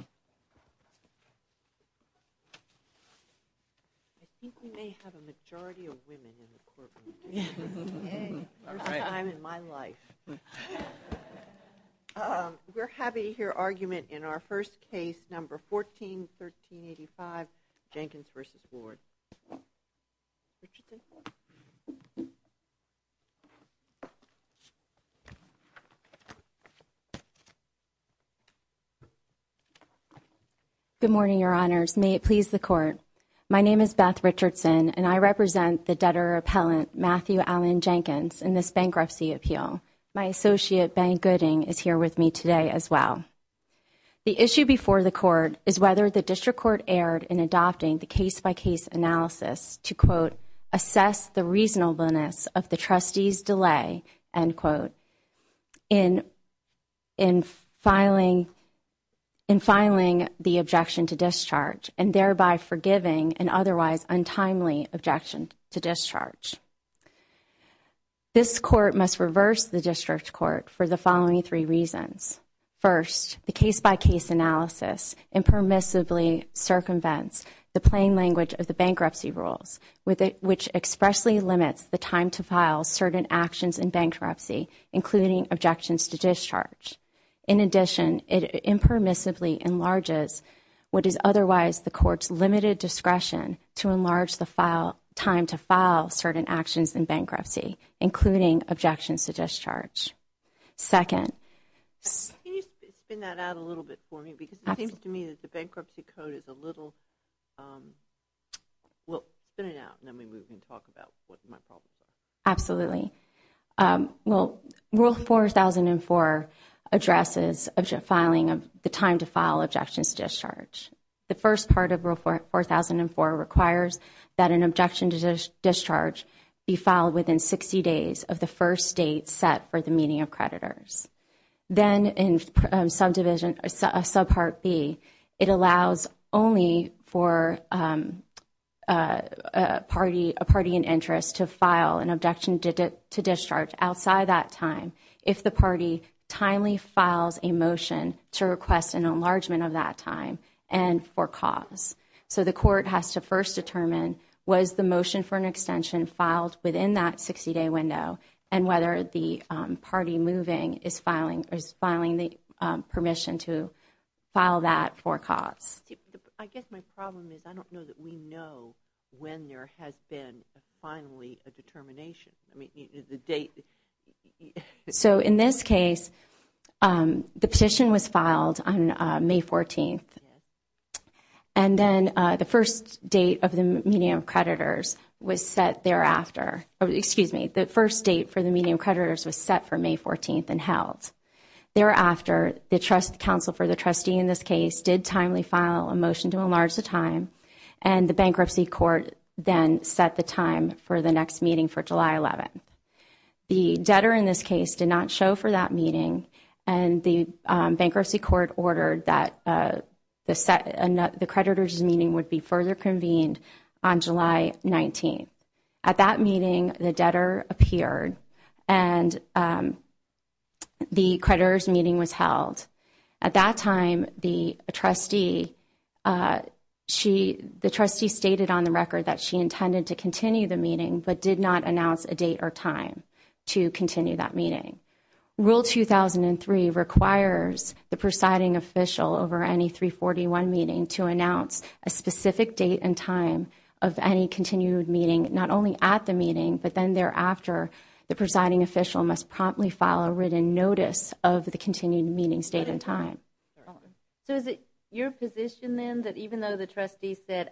I think we may have a majority of women in the courtroom today, first time in my life. We're happy to hear argument in our first case, No. 14, 1385, Jenkins v. Ward. Good morning, Your Honors. May it please the Court. My name is Beth Richardson, and I represent the debtor-appellant Matthew Allen Jenkins in this bankruptcy appeal. My associate, Ben Gooding, is here with me today as well. The issue before the Court is whether the District Court erred in adopting the case-by-case analysis to, quote, assess the reasonableness of the trustee's delay, end quote, in filing the objection to discharge and thereby forgiving an otherwise untimely objection to discharge. This Court must reverse the District Court for the following three reasons. First, the case-by-case analysis impermissibly circumvents the plain language of the bank bankruptcy rules, which expressly limits the time to file certain actions in bankruptcy, including objections to discharge. In addition, it impermissibly enlarges what is otherwise the Court's limited discretion to enlarge the time to file certain actions in bankruptcy, including objections to discharge. Second. Can you spin that out a little bit for me? Because it seems to me that the bankruptcy code is a little, well, spin it out, and then maybe we can talk about what my problem is. Absolutely. Well, Rule 4004 addresses filing of the time to file objections to discharge. The first part of Rule 4004 requires that an objection to discharge be filed within 60 days of the first date set for the meeting of creditors. Then in Subpart B, it allows only for a party in interest to file an objection to discharge outside that time if the party timely files a motion to request an enlargement of that time and for cause. So the Court has to first determine was the motion for an extension filed within that 60-day window and whether the party moving is filing the permission to file that for cause. I guess my problem is I don't know that we know when there has been finally a determination. So in this case, the petition was filed on May 14th, and then the first date of the meeting of creditors was set thereafter. Excuse me. The first date for the meeting of creditors was set for May 14th and held. Thereafter, the trust counsel for the trustee in this case did timely file a motion to enlarge the time, and the Bankruptcy Court then set the time for the next meeting for July 11th. The debtor in this case did not show for that meeting, and the Bankruptcy Court ordered that the creditors' meeting would be further convened on July 19th. At that meeting, the debtor appeared, and the creditors' meeting was held. At that time, the trustee stated on the record that she intended to continue the meeting but did not announce a date or time to continue that meeting. Rule 2003 requires the presiding official over any 341 meeting to announce a specific date and time of any continued meeting, not only at the meeting, but then thereafter, the presiding official must promptly file a written notice of the continued meeting state and time. So is it your position then that even though the trustee said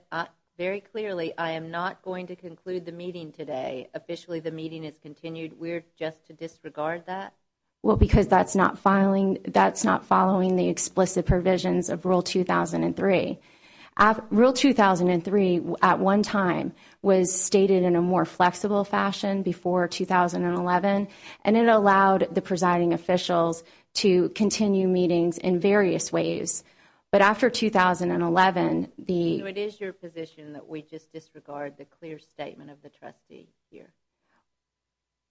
very clearly, I am not going to conclude the meeting today, officially the meeting is continued, we are just to disregard that? Well, because that is not following the explicit provisions of Rule 2003. Rule 2003 at one time was stated in a more flexible fashion before 2011, and it allowed the presiding officials to continue meetings in various ways. But after 2011, the – So it is your position that we just disregard the clear statement of the trustee here?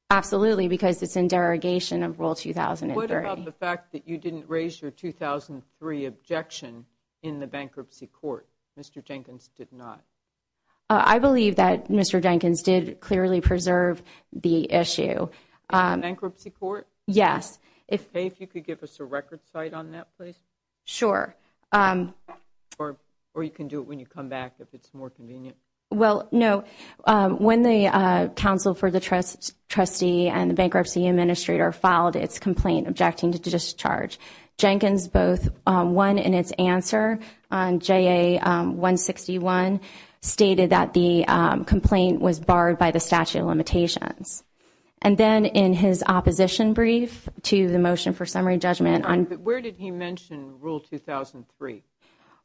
Absolutely, because it is in derogation of Rule 2003. What about the fact that you did not raise your 2003 objection in the bankruptcy court? Mr. Jenkins did not. I believe that Mr. Jenkins did clearly preserve the issue. In the bankruptcy court? Yes. If you could give us a record site on that place? Sure. Or you can do it when you come back if it is more convenient. Well, no. When the counsel for the trustee and the bankruptcy administrator filed its complaint objecting to discharge, Jenkins both won in its answer on JA-161, stated that the complaint was barred by the statute of limitations. And then in his opposition brief to the motion for summary judgment on – Where did he mention Rule 2003?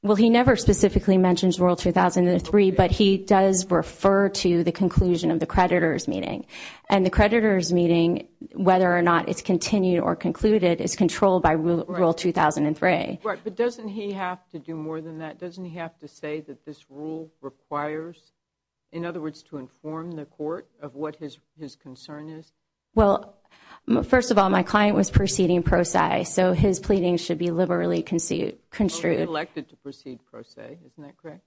Well, he never specifically mentions Rule 2003, but he does refer to the conclusion of the creditor's meeting. And the creditor's meeting, whether or not it is continued or concluded, is controlled by Rule 2003. Right. But doesn't he have to do more than that? Doesn't he have to say that this rule requires – in other words, to inform the court of what his concern is? Well, first of all, my client was proceeding pro-si. So his pleading should be liberally construed. Well, he elected to proceed pro-si. Isn't that correct?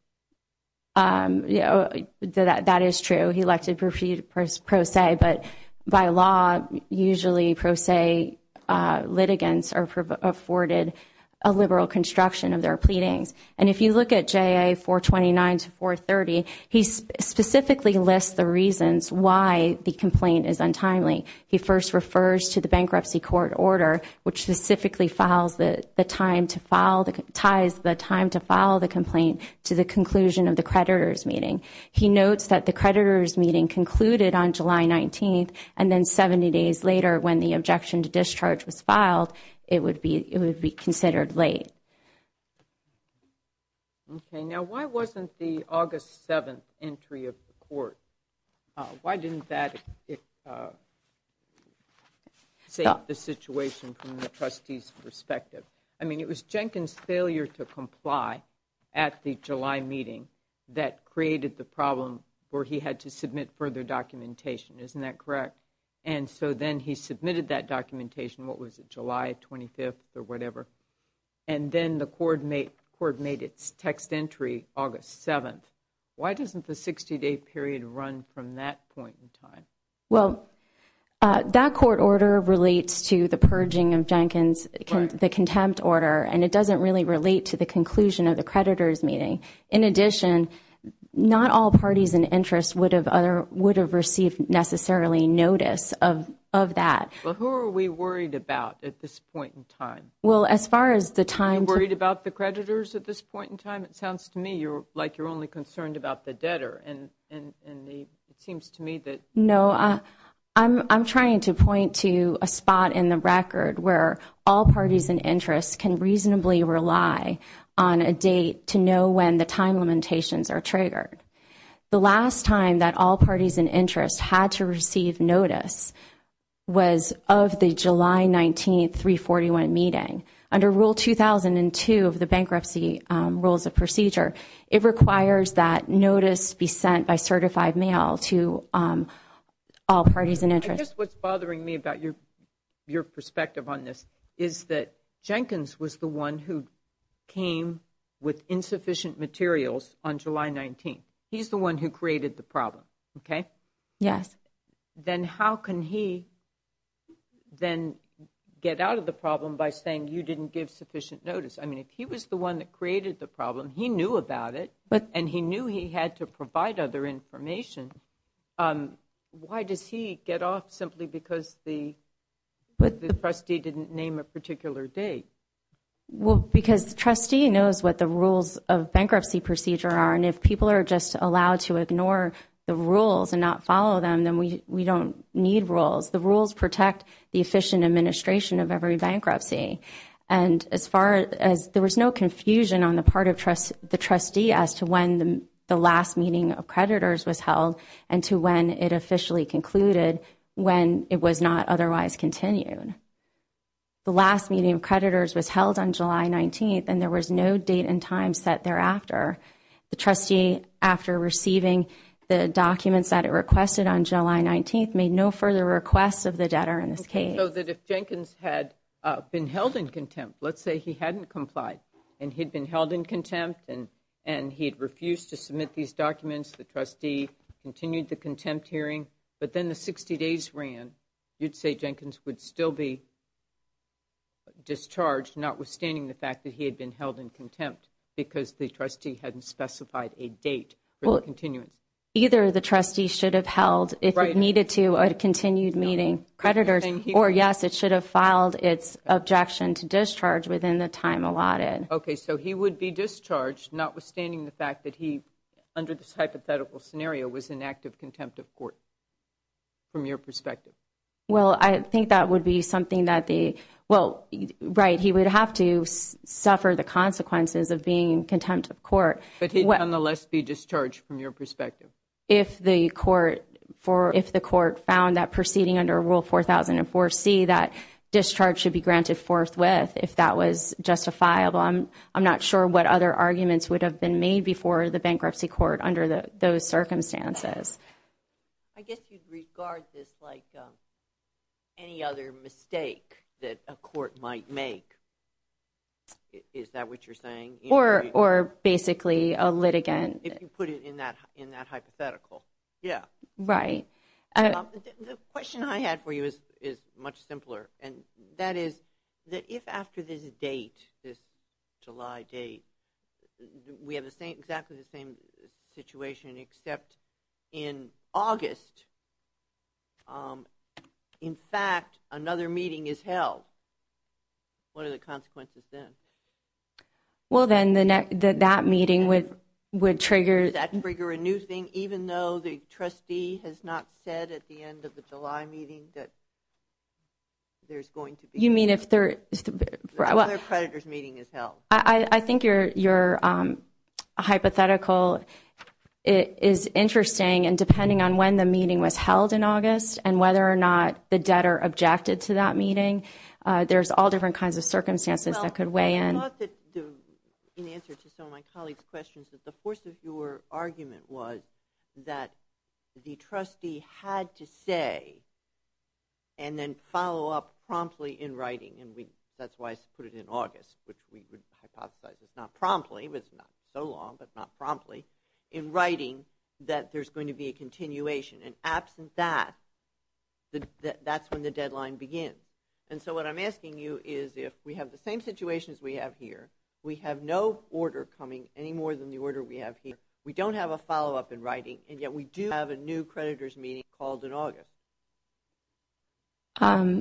That is true. He elected to proceed pro-si. But by law, usually pro-si litigants are afforded a liberal construction of their pleadings. And if you look at JA-429 to 430, he specifically lists the reasons why the complaint is untimely. He first refers to the bankruptcy court order, which specifically ties the time to file the complaint to the conclusion of the creditor's meeting. He notes that the creditor's meeting concluded on July 19th, and then 70 days later, when the objection to discharge was filed, it would be considered late. Okay. Why didn't that save the situation from the trustee's perspective? I mean, it was Jenkins' failure to comply at the July meeting that created the problem where he had to submit further documentation. Isn't that correct? And so then he submitted that documentation. What was it? July 25th or whatever. And then the court made its text entry August 7th. Why doesn't the 60-day period run from that point in time? Well, that court order relates to the purging of Jenkins, the contempt order, and it doesn't really relate to the conclusion of the creditor's meeting. In addition, not all parties and interests would have received necessarily notice of that. Well, who are we worried about at this point in time? Well, as far as the time to Are you worried about the creditors at this point in time? It sounds to me like you're only concerned about the debtor, and it seems to me that No, I'm trying to point to a spot in the record where all parties and interests can reasonably rely on a date to know when the time limitations are triggered. The last time that all parties and interests had to receive notice was of the July 19, 341 meeting. Under Rule 2002 of the Bankruptcy Rules of Procedure, it requires that notice be sent by certified mail to all parties and interests. I guess what's bothering me about your perspective on this is that Jenkins was the one who came with insufficient materials on July 19. He's the one who created the problem, okay? Yes. Then how can he then get out of the problem by saying you didn't give sufficient notice? I mean, if he was the one that created the problem, he knew about it, and he knew he had to provide other information, why does he get off simply because the trustee didn't name a particular date? Well, because the trustee knows what the rules of bankruptcy procedure are, and if people are just allowed to ignore the rules and not follow them, then we don't need rules. The rules protect the efficient administration of every bankruptcy. And there was no confusion on the part of the trustee as to when the last meeting of creditors was held and to when it officially concluded when it was not otherwise continued. The last meeting of creditors was held on July 19, and there was no date and time set thereafter. The trustee, after receiving the documents that it requested on July 19, made no further requests of the debtor in this case. So that if Jenkins had been held in contempt, let's say he hadn't complied and he'd been held in contempt and he'd refused to submit these documents, the trustee continued the contempt hearing, but then the 60 days ran, you'd say Jenkins would still be discharged notwithstanding the fact that he had been held in contempt because the trustee hadn't specified a date for the continuance. Either the trustee should have held, if it needed to, a continued meeting of creditors, or yes, it should have filed its objection to discharge within the time allotted. Okay, so he would be discharged notwithstanding the fact that he, under this hypothetical scenario, was in active contempt of court from your perspective. Well, I think that would be something that the, well, right, he would have to suffer the consequences of being in contempt of court. But he'd nonetheless be discharged from your perspective. If the court found that proceeding under Rule 4004C, that discharge should be granted forthwith, if that was justifiable. I'm not sure what other arguments would have been made before the bankruptcy court under those circumstances. I guess you'd regard this like any other mistake that a court might make. Is that what you're saying? Or basically a litigant. If you put it in that hypothetical, yeah. Right. The question I had for you is much simpler, and that is that if after this date, this July date, we have exactly the same situation except in August, in fact, another meeting is held, what are the consequences then? Well, then that meeting would trigger... Would that trigger a new thing, even though the trustee has not said at the end of the July meeting that there's going to be... You mean if there... Another creditors meeting is held. I think your hypothetical is interesting, and depending on when the meeting was held in August and whether or not the debtor objected to that meeting, there's all different kinds of circumstances that could weigh in. Well, I thought that in answer to some of my colleagues' questions that the force of your argument was that the trustee had to say and then follow up promptly in writing, and that's why I put it in August, which we would hypothesize is not promptly, but it's not so long, but not promptly, in writing that there's going to be a continuation, and absent that, that's when the deadline begins. And so what I'm asking you is if we have the same situation as we have here, we have no order coming any more than the order we have here, we don't have a follow-up in writing, and yet we do have a new creditors meeting called in August.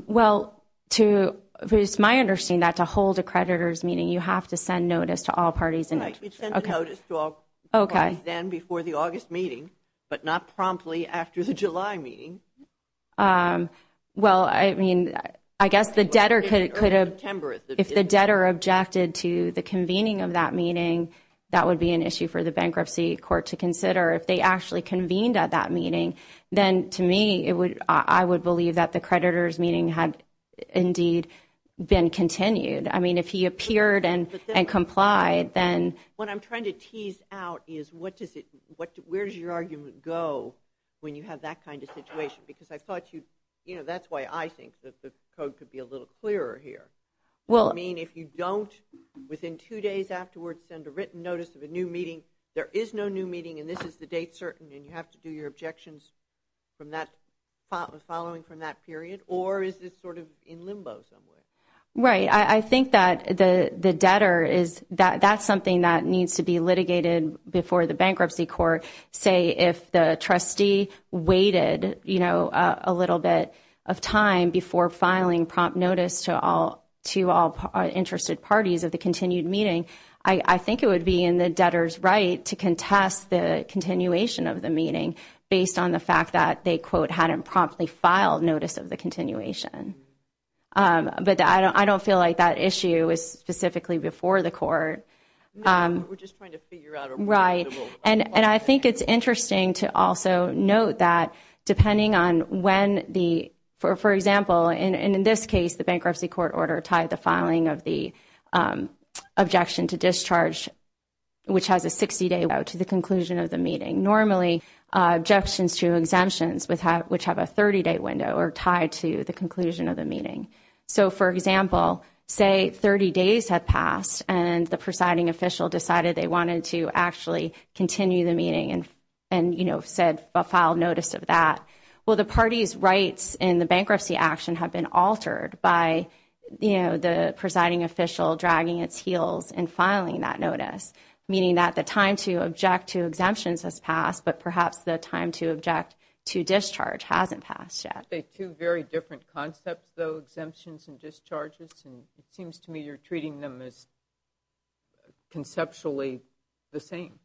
Well, to... It's my understanding that to hold a creditors meeting you have to send notice to all parties. You'd send a notice to all parties then before the August meeting, but not promptly after the July meeting. Well, I mean, I guess the debtor could have... If the debtor objected to the convening of that meeting, that would be an issue for the bankruptcy court to consider. If they actually convened at that meeting, then to me, I would believe that the creditors meeting had indeed been continued. I mean, if he appeared and complied, then... What I'm trying to tease out is what does it... Where does your argument go when you have that kind of situation? Because I thought you'd... You know, that's why I think that the code could be a little clearer here. I mean, if you don't, within two days afterwards, you send a written notice of a new meeting, there is no new meeting and this is the date certain and you have to do your objections following from that period, or is this sort of in limbo somewhere? Right. I think that the debtor is... That's something that needs to be litigated before the bankruptcy court. Say, if the trustee waited, you know, a little bit of time before filing prompt notice to all interested parties of the continued meeting, I think it would be in the debtor's right to contest the continuation of the meeting based on the fact that they, quote, hadn't promptly filed notice of the continuation. But I don't feel like that issue is specifically before the court. We're just trying to figure out a reasonable... Right. And I think it's interesting to also note that depending on when the... For example, in this case, the bankruptcy court order tied the filing of the objection to discharge which has a 60-day window to the conclusion of the meeting. Normally, objections to exemptions which have a 30-day window are tied to the conclusion of the meeting. So, for example, say 30 days had passed and the presiding official decided they wanted to actually continue the meeting and, you know, filed notice of that, well, the party's rights in the bankruptcy action have been altered by, you know, the presiding official dragging its heels and filing that notice, meaning that the time to object to exemptions has passed but perhaps the time to object to discharge hasn't passed yet. They're two very different concepts, though, exemptions and discharges, and it seems to me you're treating them as conceptually the same.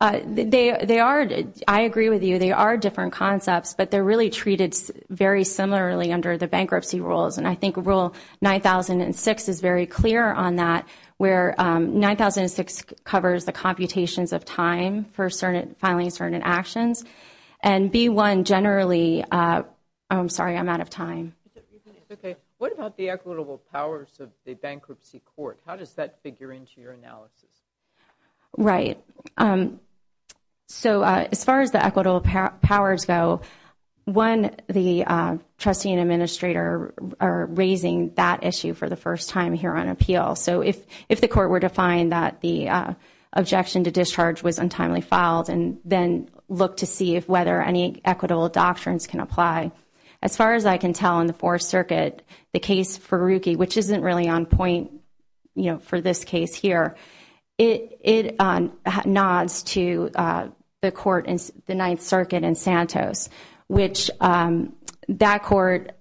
I agree with you. They are different concepts, but they're really treated very similarly under the bankruptcy rules, and I think Rule 9006 is very clear on that where 9006 covers the computations of time for filing certain actions and B-1 generally... I'm sorry, I'm out of time. What about the equitable powers of the bankruptcy court? How does that figure into your analysis? Right. So as far as the equitable powers go, one, the trustee and administrator are raising that issue for the first time here on appeal, so if the court were to find that the objection to discharge was untimely filed and then look to see if whether any equitable doctrines can apply. As far as I can tell in the Fourth Circuit, the case for Rookie, which isn't really on point for this case here, it nods to the court in the Ninth Circuit in Santos, which that court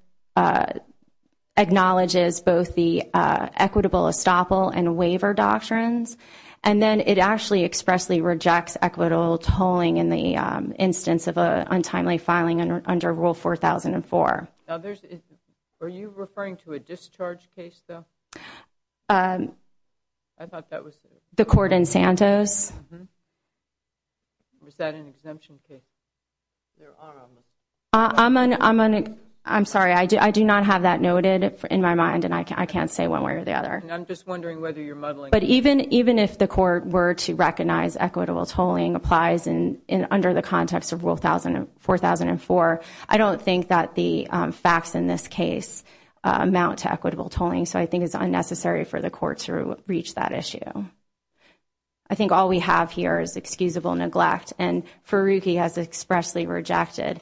acknowledges both the equitable estoppel and waiver doctrines, and then it actually expressly rejects equitable tolling in the instance of an untimely filing under Rule 4004. Are you referring to a discharge case, though? I thought that was... The court in Santos. Was that an exemption case? I'm sorry, I do not have that noted in my mind and I can't say one way or the other. But even if the court were to recognize equitable tolling applies under the context of Rule 4004, I don't think that the facts in this case amount to equitable tolling, so I think it's unnecessary for the court to reach that issue. I think all we have here is excusable neglect and for Rookie has expressly rejected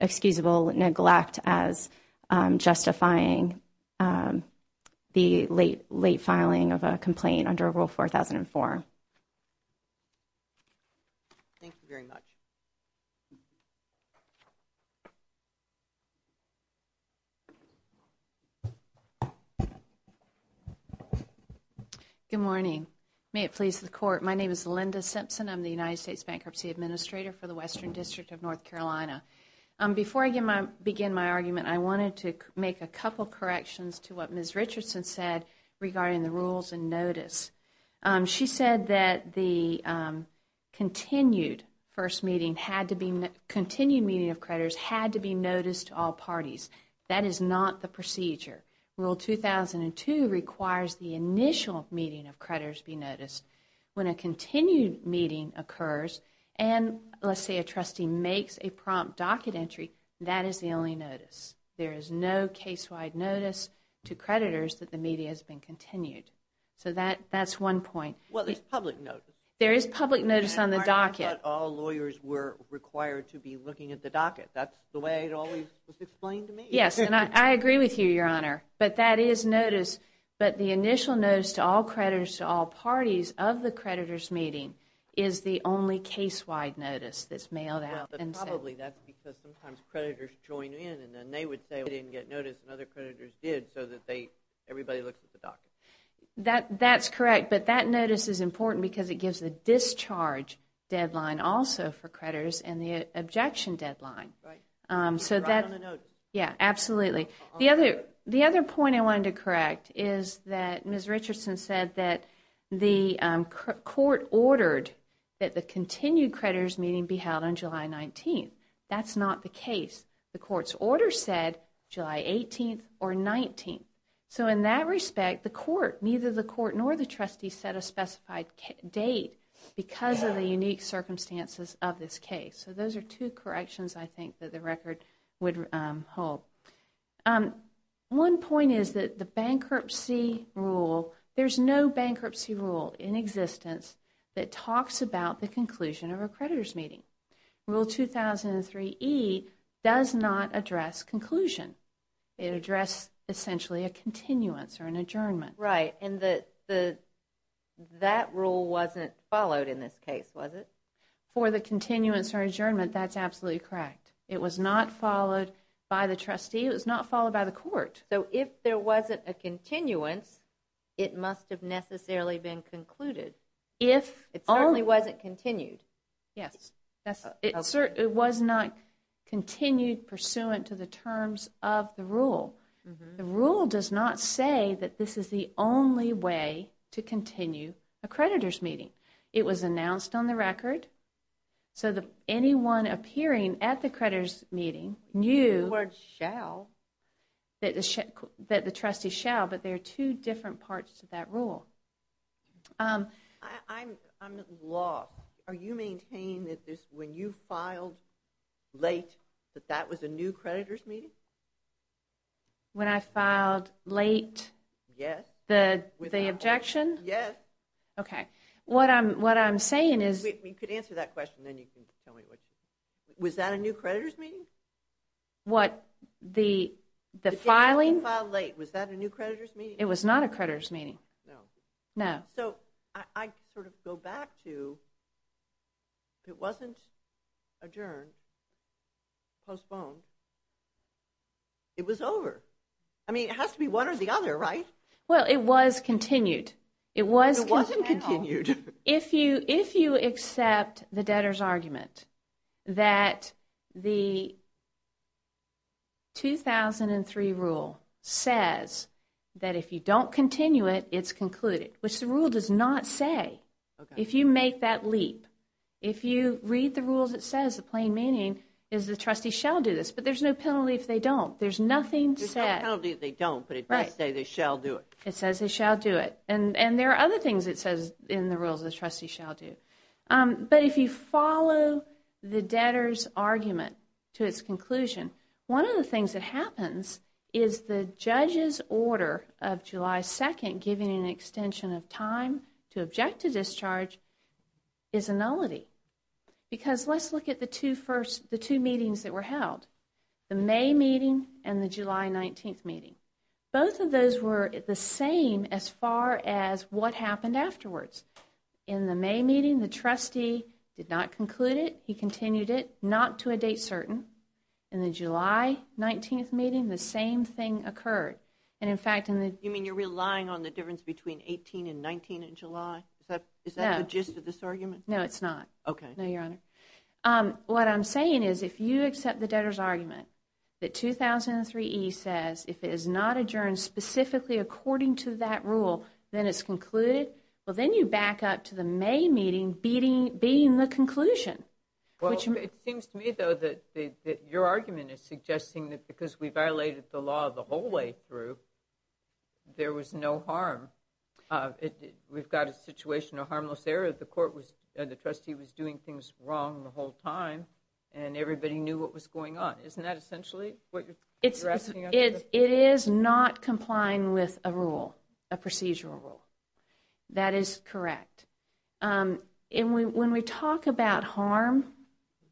excusable neglect as justifying the late filing of a complaint under Rule 4004. Thank you very much. Good morning. May it please the court. My name is Linda Simpson. I'm the United States Bankruptcy Administrator for the Western District of North Carolina. Before I begin my argument, I wanted to make a couple corrections to what Ms. Richardson said regarding the rules and notice. She said that the continued meeting of creditors had to be noticed to all parties. That is not the procedure. Rule 2002 requires the initial meeting of creditors to be noticed. When a continued meeting occurs and let's say a trustee makes a prompt docket entry, that is the only notice. There is no case-wide notice to creditors that the meeting has been continued. That is one point. There is public notice on the docket. I thought all lawyers were required to be looking at the docket. That is the way it was always explained to me. I agree with you, Your Honor. The initial notice to all creditors to all parties of the creditors' meeting is the only case-wide notice that is mailed out. Probably that is because sometimes creditors join in and they would say they didn't get notice and other creditors did so everybody looks at the docket. That is correct, but that notice is important because it gives the discharge deadline also for creditors and the objection deadline. The other point I wanted to correct is that Ms. Richardson said that the court ordered that the continued creditors' meeting be held on July 19. That is not the case. The court's order said July 18 or 19. In that respect, neither the court nor the trustee set a specified date because of the unique circumstances of this case. Those are two corrections I think that the record would hold. One point is that the bankruptcy rule there is no bankruptcy rule in existence that talks about the conclusion of a creditors' meeting. Rule 2003E does not address conclusion. It addresses essentially a continuance or an adjournment. That rule wasn't followed in this case, was it? For the continuance or adjournment, that is absolutely correct. It was not followed by the trustee and it was not followed by the court. So if there wasn't a continuance, it must have necessarily been concluded. It certainly wasn't continued. It was not continued pursuant to the terms of the rule. The rule does not say that this is the only way to continue a creditors' meeting. It was announced on the record so that anyone appearing at the creditors' meeting knew that the trustee was going to continue the meeting. I'm lost. Are you maintaining that when you filed late that that was a new creditors' meeting? When I filed late the objection? Yes. You could answer that question and then you can tell me. Was that a new creditors' meeting? The filing? Was that a new creditors' meeting? It was not a creditors' meeting. I sort of go back to if it wasn't adjourned, postponed, it was over. It has to be one or the other, right? It was continued. If you accept the debtors' argument that the 2003 rule says that if you don't continue it, it's concluded, which the rule does not say. If you make that leap, if you read the rules it says the plain meaning is the trustee shall do this, but there's no penalty if they don't. There's no penalty if they don't, but it does say they shall do it. It says they shall do it. There are other things it says in the rules, the trustee shall do. If you follow the debtors' argument to its conclusion, one of the things that happens is the judge's order of July 2nd giving an extension of time to object to discharge is a nullity. Let's look at the two meetings that were held. The May meeting and the July 19th meeting. Both of those were the same as far as what happened afterwards. In the May meeting, the trustee did not conclude it. He continued it, not to a date certain. In the July 19th meeting, the same thing occurred. You mean you're relying on the difference between 18 and 19 in July? Is that the gist of this argument? No, it's not. What I'm saying is if you accept the debtors' argument that 2003E says if it is not adjourned specifically according to that rule then it's concluded, then you back up to the May meeting being the conclusion. It seems to me that your argument is suggesting that because we violated the law the whole way through there was no harm. We've got a situation of harmless error. The trustee was doing things wrong the whole time and everybody knew what was going on. Isn't that essentially what you're asking? It is not complying with a rule, a procedural rule. That is correct. When we talk about harm,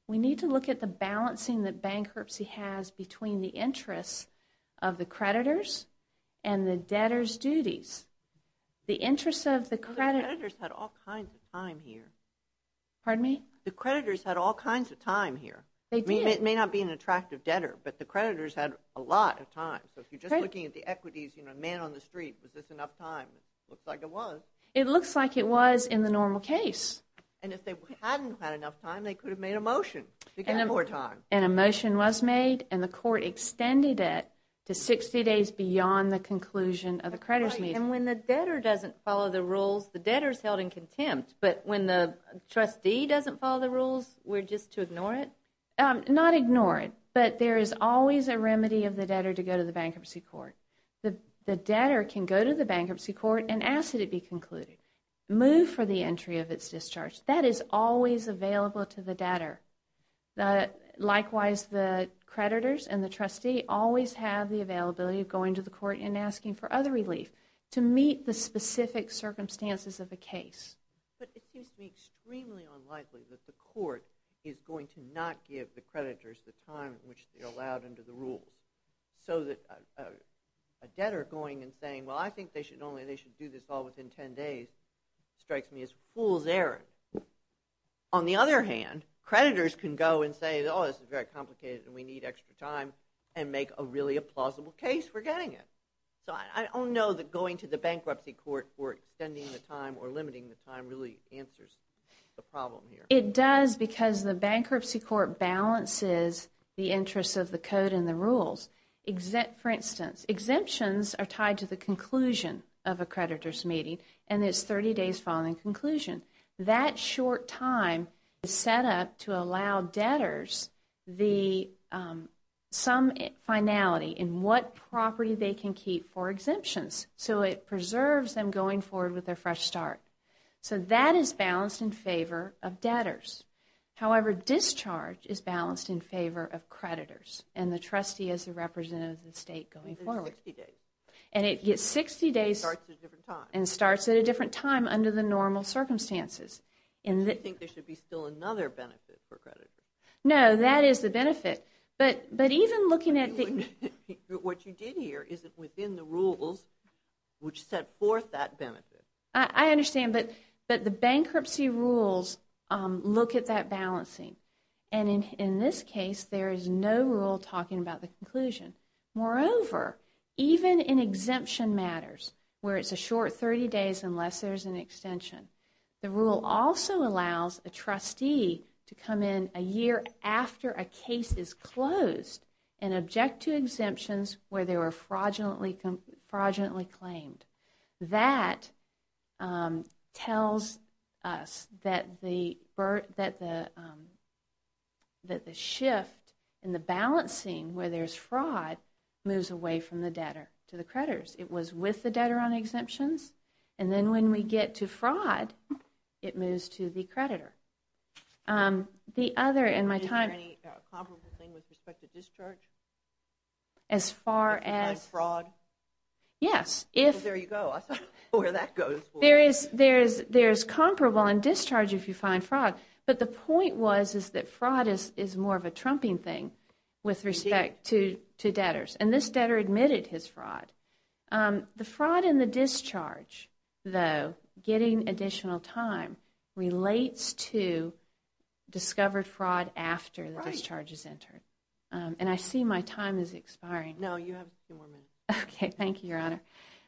we need to look at the balancing that bankruptcy has between the interests of the creditors and the debtors' duties. The creditors had all kinds of time here. Pardon me? The creditors had all kinds of time here. It may not be an attractive debtor, but the creditors had a lot of time. If you're just looking at the equities, a man on the street, was this enough time? It looks like it was in the normal case. If they hadn't had enough time, they could have made a motion to get more time. A motion was made and the court extended it to 60 days. If we don't follow the rules, we're just to ignore it? Not ignore it, but there is always a remedy of the debtor to go to the bankruptcy court. The debtor can go to the bankruptcy court and ask that it be concluded. Move for the entry of its discharge. That is always available to the debtor. Likewise, the creditors and the trustee always have the availability of going to the court and asking for other relief to meet the specific circumstances of a case. It seems to me extremely unlikely that the court is going to not give the creditors the time which they're allowed under the rules. A debtor going and saying, I think they should do this all within 10 days, strikes me as fool's error. On the other hand, creditors can go and say, this is very complicated and we need extra time and make a really plausible case for getting it. I don't know that going to the bankruptcy court or extending the time or limiting the time really answers the problem here. It does because the bankruptcy court balances the interest of the code and the rules. For instance, exemptions are tied to the conclusion of a creditor's meeting and it's 30 days following conclusion. That short time is set up to allow debtors some finality in what property they can keep for exemptions. It preserves them going forward with their fresh start. That is balanced in favor of debtors. However, discharge is balanced in favor of creditors and the trustee as a representative of the normal circumstances. Do you think there should be still another benefit for creditors? No, that is the benefit. What you did here is within the rules which set forth that benefit. I understand, but the bankruptcy rules look at that balancing. In this case, there is no rule talking about the extension. The rule also allows a trustee to come in a year after a case is closed and object to exemptions where they were fraudulently claimed. That tells us that the shift in the balancing where there is fraud moves away from the debtor to the creditors. It was with the debtor on exemptions and then when we get to fraud, it moves to the creditor. Is there any comparable thing with respect to discharge? Yes. There is comparable in discharge if you find fraud. The point was that fraud is more of a trumping thing with respect to debtors. This debtor admitted his fraud. The fraud in the discharge, though, getting additional time, relates to discovered fraud after the discharge is entered. I see my time is expiring.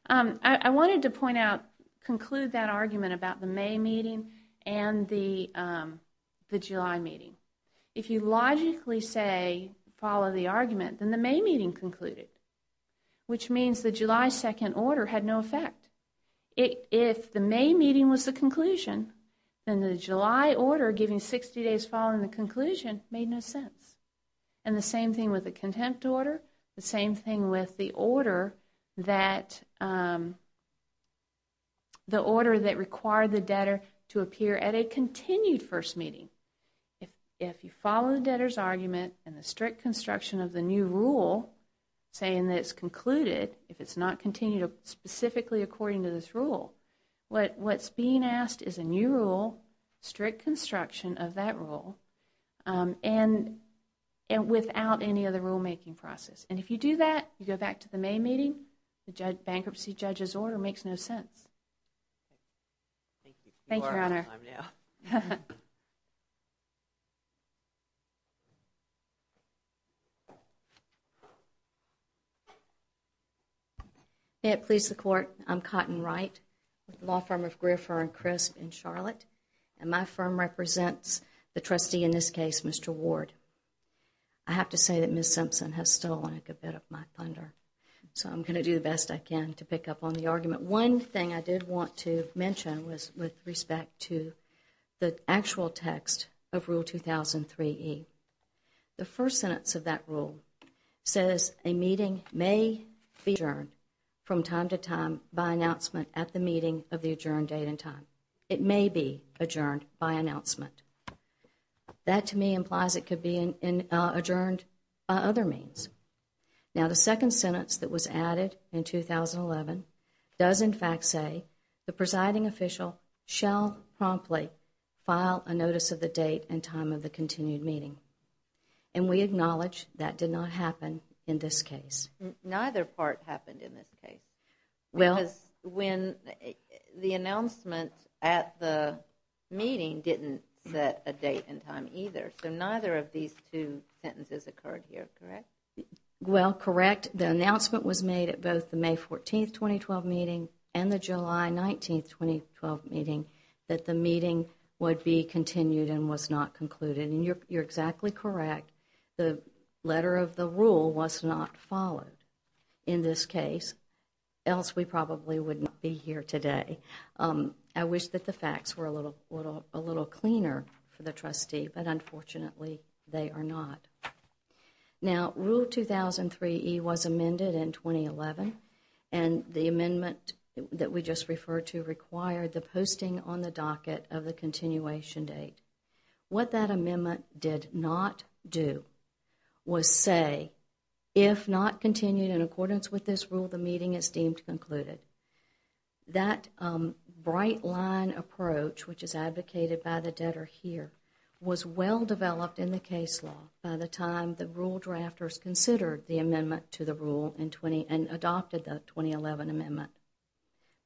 I wanted to conclude that argument about the May meeting and the July meeting. If you logically follow the argument, then the May meeting concluded, which means the July second order had no effect. If the May meeting was the conclusion, then the July order giving 60 days following the conclusion made no sense. The same thing with the contempt order, the same thing with the order that required the debtor to appear at a continued first meeting. If you follow the debtor's argument and the strict construction of the new rule saying that it was concluded, if it is not continued specifically according to this rule, what is being asked is a new rule, strict construction of that rule, without any other rulemaking process. If you do that, you go back to the May meeting, the bankruptcy judge's order makes no sense. Thank you. May it please the court, I am Cotton Wright, law firm of Griffer and Crisp in Charlotte. My firm represents the trustee in this case, Mr. Ward. I have to say that Ms. Simpson has stolen a good bit of my thunder, so I am going to do the best I can to pick up on the argument. One thing I did want to mention with respect to the actual text of Rule 2003E. The first sentence of that rule says a meeting may be adjourned from time to time by announcement at the meeting of the adjourned date and time. It may be adjourned by announcement. That to me implies it could be adjourned by other means. The second sentence that was added in 2011 does in fact say the presiding official shall promptly file a notice of the date and time of the continued meeting. We acknowledge that did not happen in this case. Neither part happened in this case. The announcement at the meeting didn't set a date and time either, so neither of these two sentences occurred here, correct? Correct. The announcement was made at both the May 14, 2012 meeting and the July 19, 2012 meeting that the meeting would be continued and was not concluded. You are exactly correct. The letter of the rule was not followed in this case, else we probably would not be here today. I wish that the facts were a little cleaner for the trustee, but unfortunately they are not. Now, Rule 2003E was amended in 2011 and the amendment that we just referred to required the posting on the docket of the continuation date. What that amendment did not do was say if not continued in accordance with this rule, the meeting is deemed concluded. That bright line approach, which is advocated by the debtor here, was well developed in the case law by the time the rule drafters considered the 2011 amendment,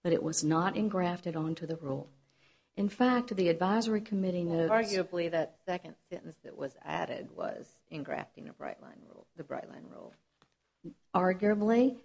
but it was not engrafted onto the rule. Arguably, that second sentence that was added was engrafting the bright line rule. Arguably,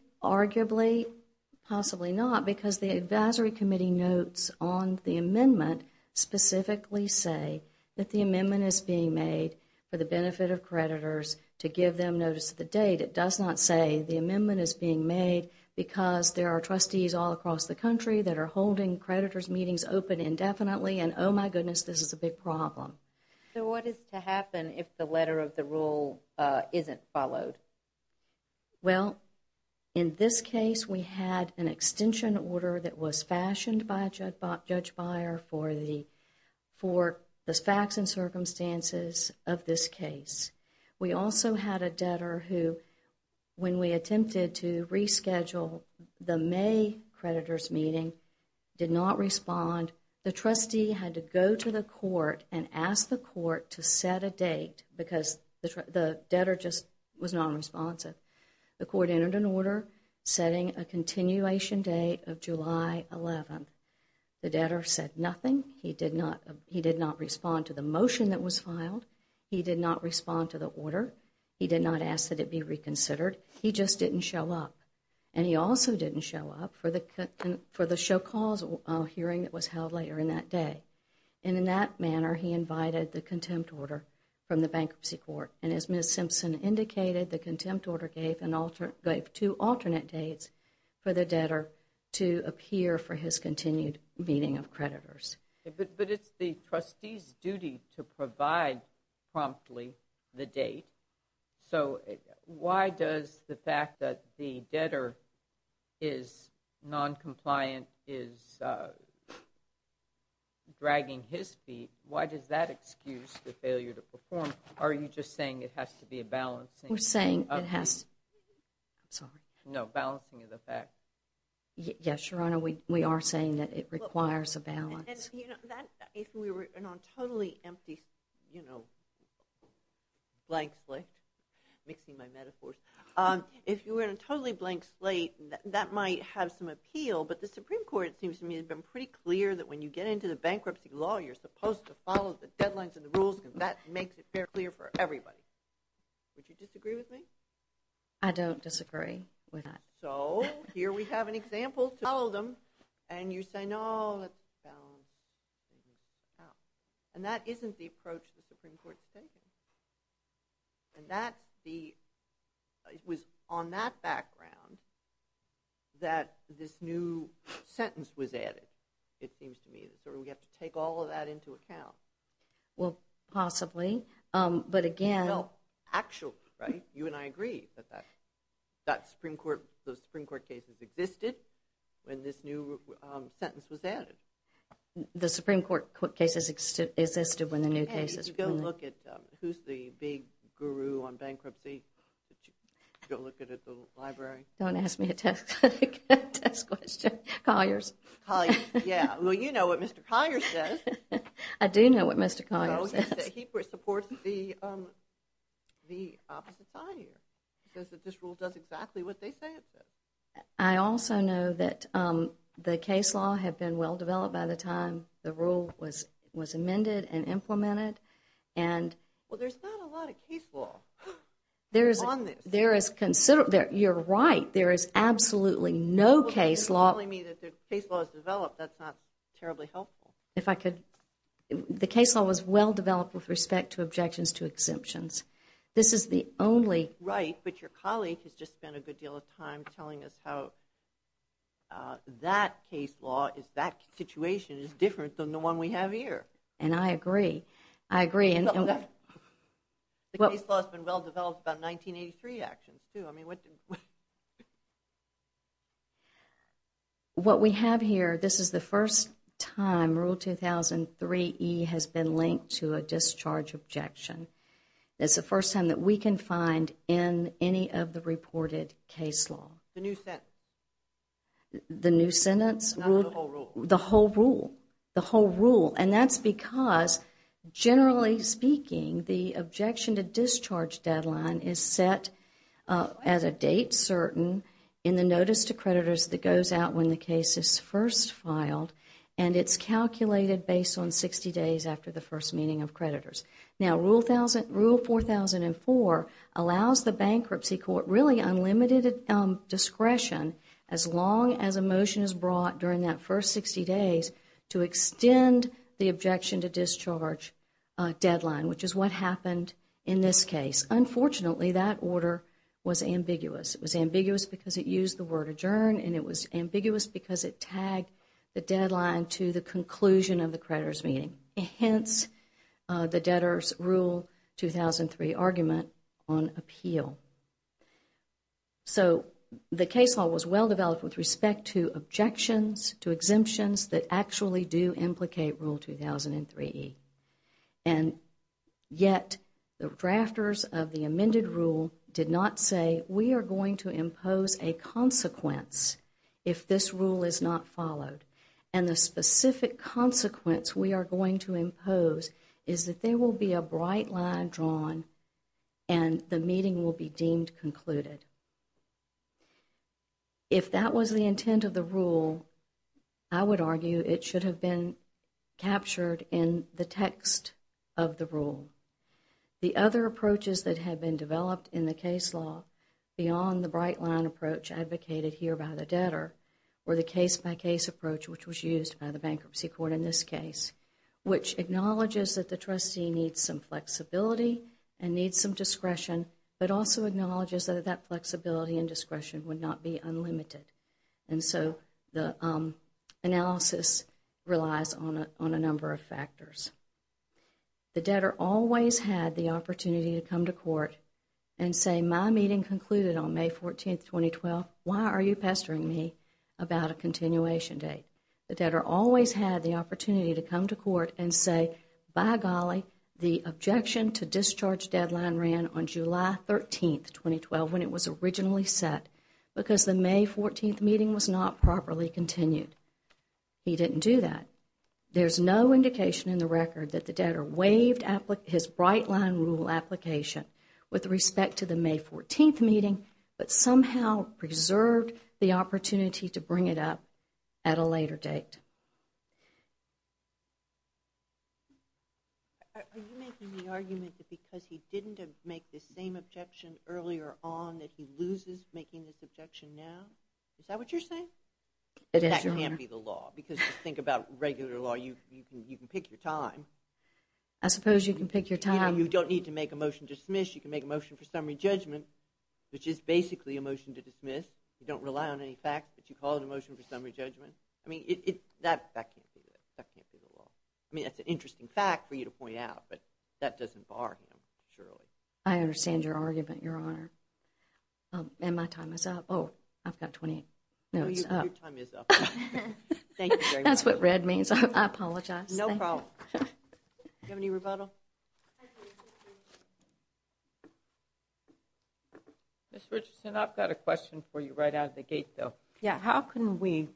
possibly not because the advisory committee notes on the amendment specifically say that the amendment is being made for the benefit of creditors to give them notice of the date. In fact, it does not say the amendment is being made because there are trustees all across the country that are holding creditors' meetings open indefinitely and oh my goodness, this is a big problem. So what is to happen if the letter of the rule isn't followed? Well, in this case, we had an extension order that was fashioned by Judge Beyer for the facts and when we attempted to reschedule the May creditors' meeting, it did not respond. The trustee had to go to the court and ask the court to set a date because the debtor just was not responsive. The court entered an order setting a continuation date of July 11. He did not respond to the motion that was filed. He did not respond to the order. He did not ask that it be reconsidered. He just didn't show up and he also didn't show up for the show calls hearing that was held later in that day and in that manner, he invited the contempt order from the bankruptcy court and as Ms. Simpson indicated, the contempt order gave two alternate dates for the debtor to appear for his continued meeting of creditors. But it's the trustee's duty to provide promptly the date. So why does the fact that the debtor is noncompliant is dragging his feet? Why does that excuse the failure to perform? Are you just saying it has to be a balance? No, balancing of the facts. Yes, Your Honor, we are saying that it requires a balance. If you were in a totally blank slate, that might have some appeal, but the Supreme Court, it seems to me, has been pretty clear that when you get into the bankruptcy law, you're supposed to follow the deadlines and the rules because that makes it very clear for everybody. Would you disagree with me? I don't disagree with that. So here we have an example to follow them and you say, no, let's balance. And that isn't the approach the Supreme Court is taking. It was on that background that this new sentence was added, it seems to me. So we have to take all of that into account. Well, possibly. Well, actually, you and I agree that those Supreme Court cases existed when this new sentence was added. The Supreme Court cases existed when the new cases were added. Who's the big guru on bankruptcy? Go look at the library. Don't ask me a test question. Colliers. Well, you know what Mr. Colliers says. I do know what Mr. Colliers says. He supports the opposite side here. He says that this rule does exactly what they say it does. I also know that the case law had been well developed by the time the rule was amended and implemented. Well, there's not a lot of case law on this. You're right. There is absolutely no case law. You're telling me that the case law has developed, that's not terribly helpful. The case law was well developed with respect to objections to exemptions. Right, but your colleague has just spent a good deal of time telling us how that case I agree. The case law has been well developed about 1983 actions too. What we have here, this is the first time Rule 2003E has been linked to a discharge objection. It's the first time that we can find in any of the reported case law. The new sentence? The whole rule. That's because, generally speaking, the objection to discharge deadline is set as a date certain in the notice to creditors that goes out when the case is first filed. It's calculated based on 60 days after the first meeting of creditors. Rule 4004 allows the bankruptcy court unlimited discretion as long as a motion is filed during that first 60 days to extend the objection to discharge deadline, which is what happened in this case. Unfortunately, that order was ambiguous. It was ambiguous because it used the word adjourn and it was ambiguous because it tagged the deadline to the conclusion of the creditors meeting. Hence, the debtors rule 2003 argument on exemptions that actually do implicate Rule 2003E. Yet, the drafters of the amended rule did not say we are going to impose a consequence if this rule is not followed. The specific consequence we are going to impose is that there will be a bright line drawn and the meeting will be deemed concluded. If that was the intent of the rule, I would argue it should have been captured in the text of the rule. The other approaches that have been developed in the case law beyond the bright line approach advocated here by the debtor or the case-by-case approach which was used by the bankruptcy court in this case, which acknowledges that the trustee needs some flexibility and discretion would not be unlimited. The analysis relies on a number of factors. The debtor always had the opportunity to come to court and say my meeting concluded on May 14, 2012. Why are you pestering me about a continuation date? The debtor always had the opportunity to come to court and say, by golly, the objection to discharge deadline ran on July 13, 2012 when it was originally set because the May 14 meeting was not properly continued. He did not do that. There is no indication in the record that the debtor waived his bright line rule application with respect to the May 14 meeting but somehow preserved the opportunity to bring it up at a later date. Are you making the argument that because he didn't make the same objection earlier on that he loses making this objection now? Is that what you're saying? That can't be the law because if you think about regular law you can pick your time. You don't need to make a motion to dismiss, you can make a motion for summary judgment which is basically a motion to dismiss. You don't rely on any fact that you call it a motion for summary judgment. That can't be the law. That's an interesting fact for you to point out but that doesn't bar him, surely. I understand your argument, Your Honor. My time is up. I've got 20 minutes. That's what red means. I apologize. Do you have any rebuttal? Ms. Richardson, I've got a question for you right out of the gate though. How can we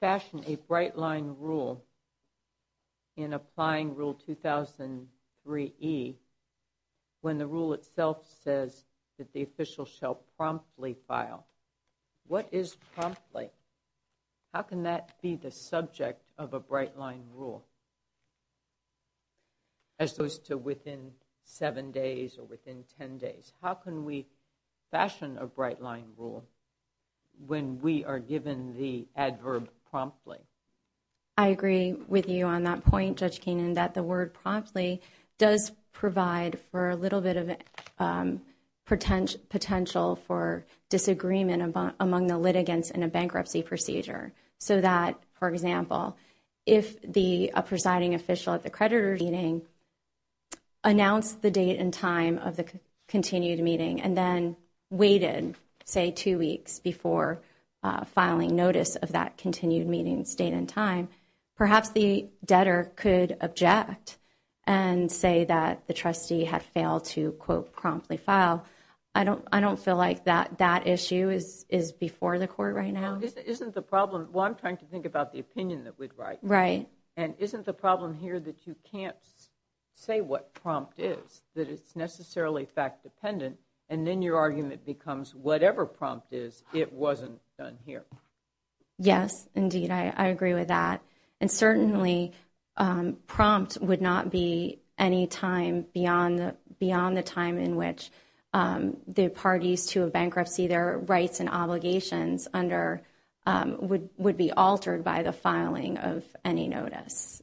fashion a bright line rule in applying rule 2003E when the rule itself says that the official shall promptly file? What is promptly? How can that be the subject of a bright line rule as opposed to within 7 days or within 10 days? How can we fashion a bright line rule when we are given the adverb promptly? I agree with you on that point, Judge Keenan, that the word promptly does provide for a little bit of potential for disagreement among the litigants in a bankruptcy procedure so that, for example, if a presiding official at the creditor's meeting announced the date and time of the continued meeting and then waited, say, 2 weeks before filing notice of that continued meeting's date and time, perhaps the debtor could object and say that the trustee had failed to, quote, promptly file. I don't feel like that issue is before the court right now. I'm trying to think about the opinion that we'd write. Isn't the problem here that you can't say what prompt is, that it's necessarily fact-dependent and then your argument becomes whatever prompt is, it wasn't done here? Yes, indeed, I agree with that. Certainly, prompt would not be any time beyond the time in which the parties to a bankruptcy, their rights and obligations, would be altered by the filing of any notice.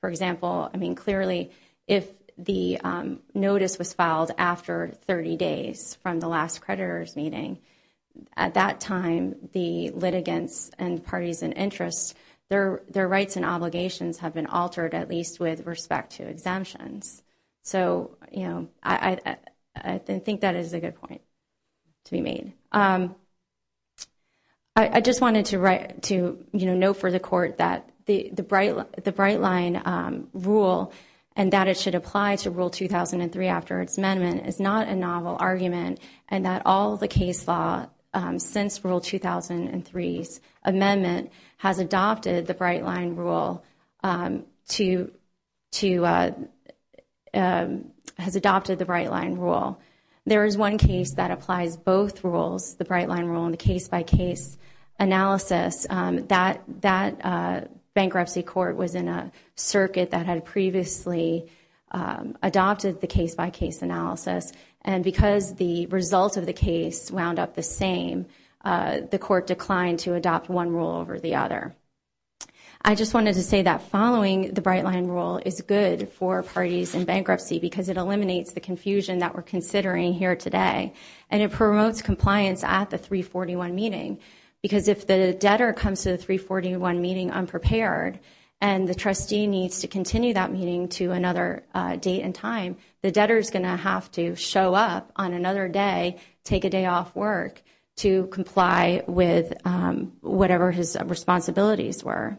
For example, clearly, if the notice was filed after 30 days from the last creditor's meeting, at that time, the litigants and parties in interest, their rights and obligations have been altered, at least with respect to exemptions. I think that is a good point to be made. I just wanted to note for the court that the Bright Line rule and that it should apply to Rule 2003 after its amendment is not a novel argument and that all the case law since Rule 2003's amendment has adopted the Bright Line rule to has adopted the Bright Line rule. There is one case that applies both rules, the Bright Line rule and the case-by-case analysis that bankruptcy court was in a circuit that had previously adopted the case-by-case analysis and because the results of the case wound up the same, the court declined to adopt one rule over the other. I just wanted to say that following the Bright Line rule is good for parties in bankruptcy because it eliminates the confusion that we're considering here today and it promotes compliance at the 341 meeting because if the debtor comes to the 341 meeting unprepared and the trustee needs to continue that meeting to another date and time, the debtor's going to have to show up on another day, take a day off work to comply with whatever his responsibilities were.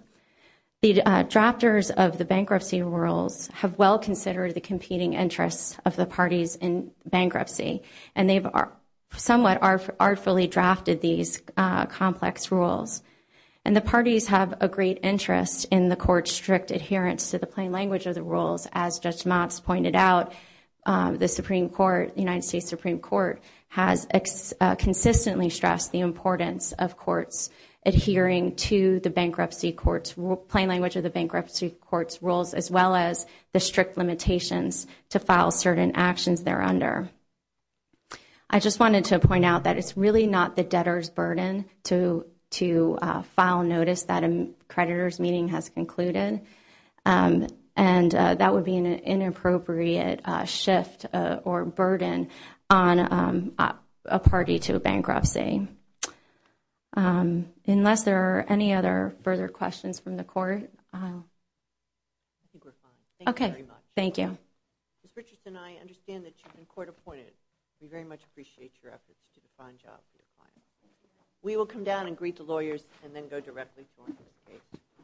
The drafters of the bankruptcy rules have well considered the competing interests of the parties in bankruptcy and they've somewhat artfully drafted these complex rules and the parties have a great interest in the court's strict adherence to the plain language of the rules. As Judge Motz pointed out, the Supreme Court, the United States Supreme Court, has consistently stressed the importance of courts adhering to the bankruptcy court's plain language of the bankruptcy court's rules as well as the strict limitations to file certain actions there under. I just wanted to point out that it's really not the debtor's burden to file notice that a creditor's meeting has concluded and that would be an inappropriate shift or burden on a party to bankruptcy. Unless there are any other further questions from the court, I think we're fine. Thank you very much. Ms. Richardson, I understand that you've been court appointed. We very much appreciate your efforts to define jobs. We will come down and greet the lawyers and then go directly to them.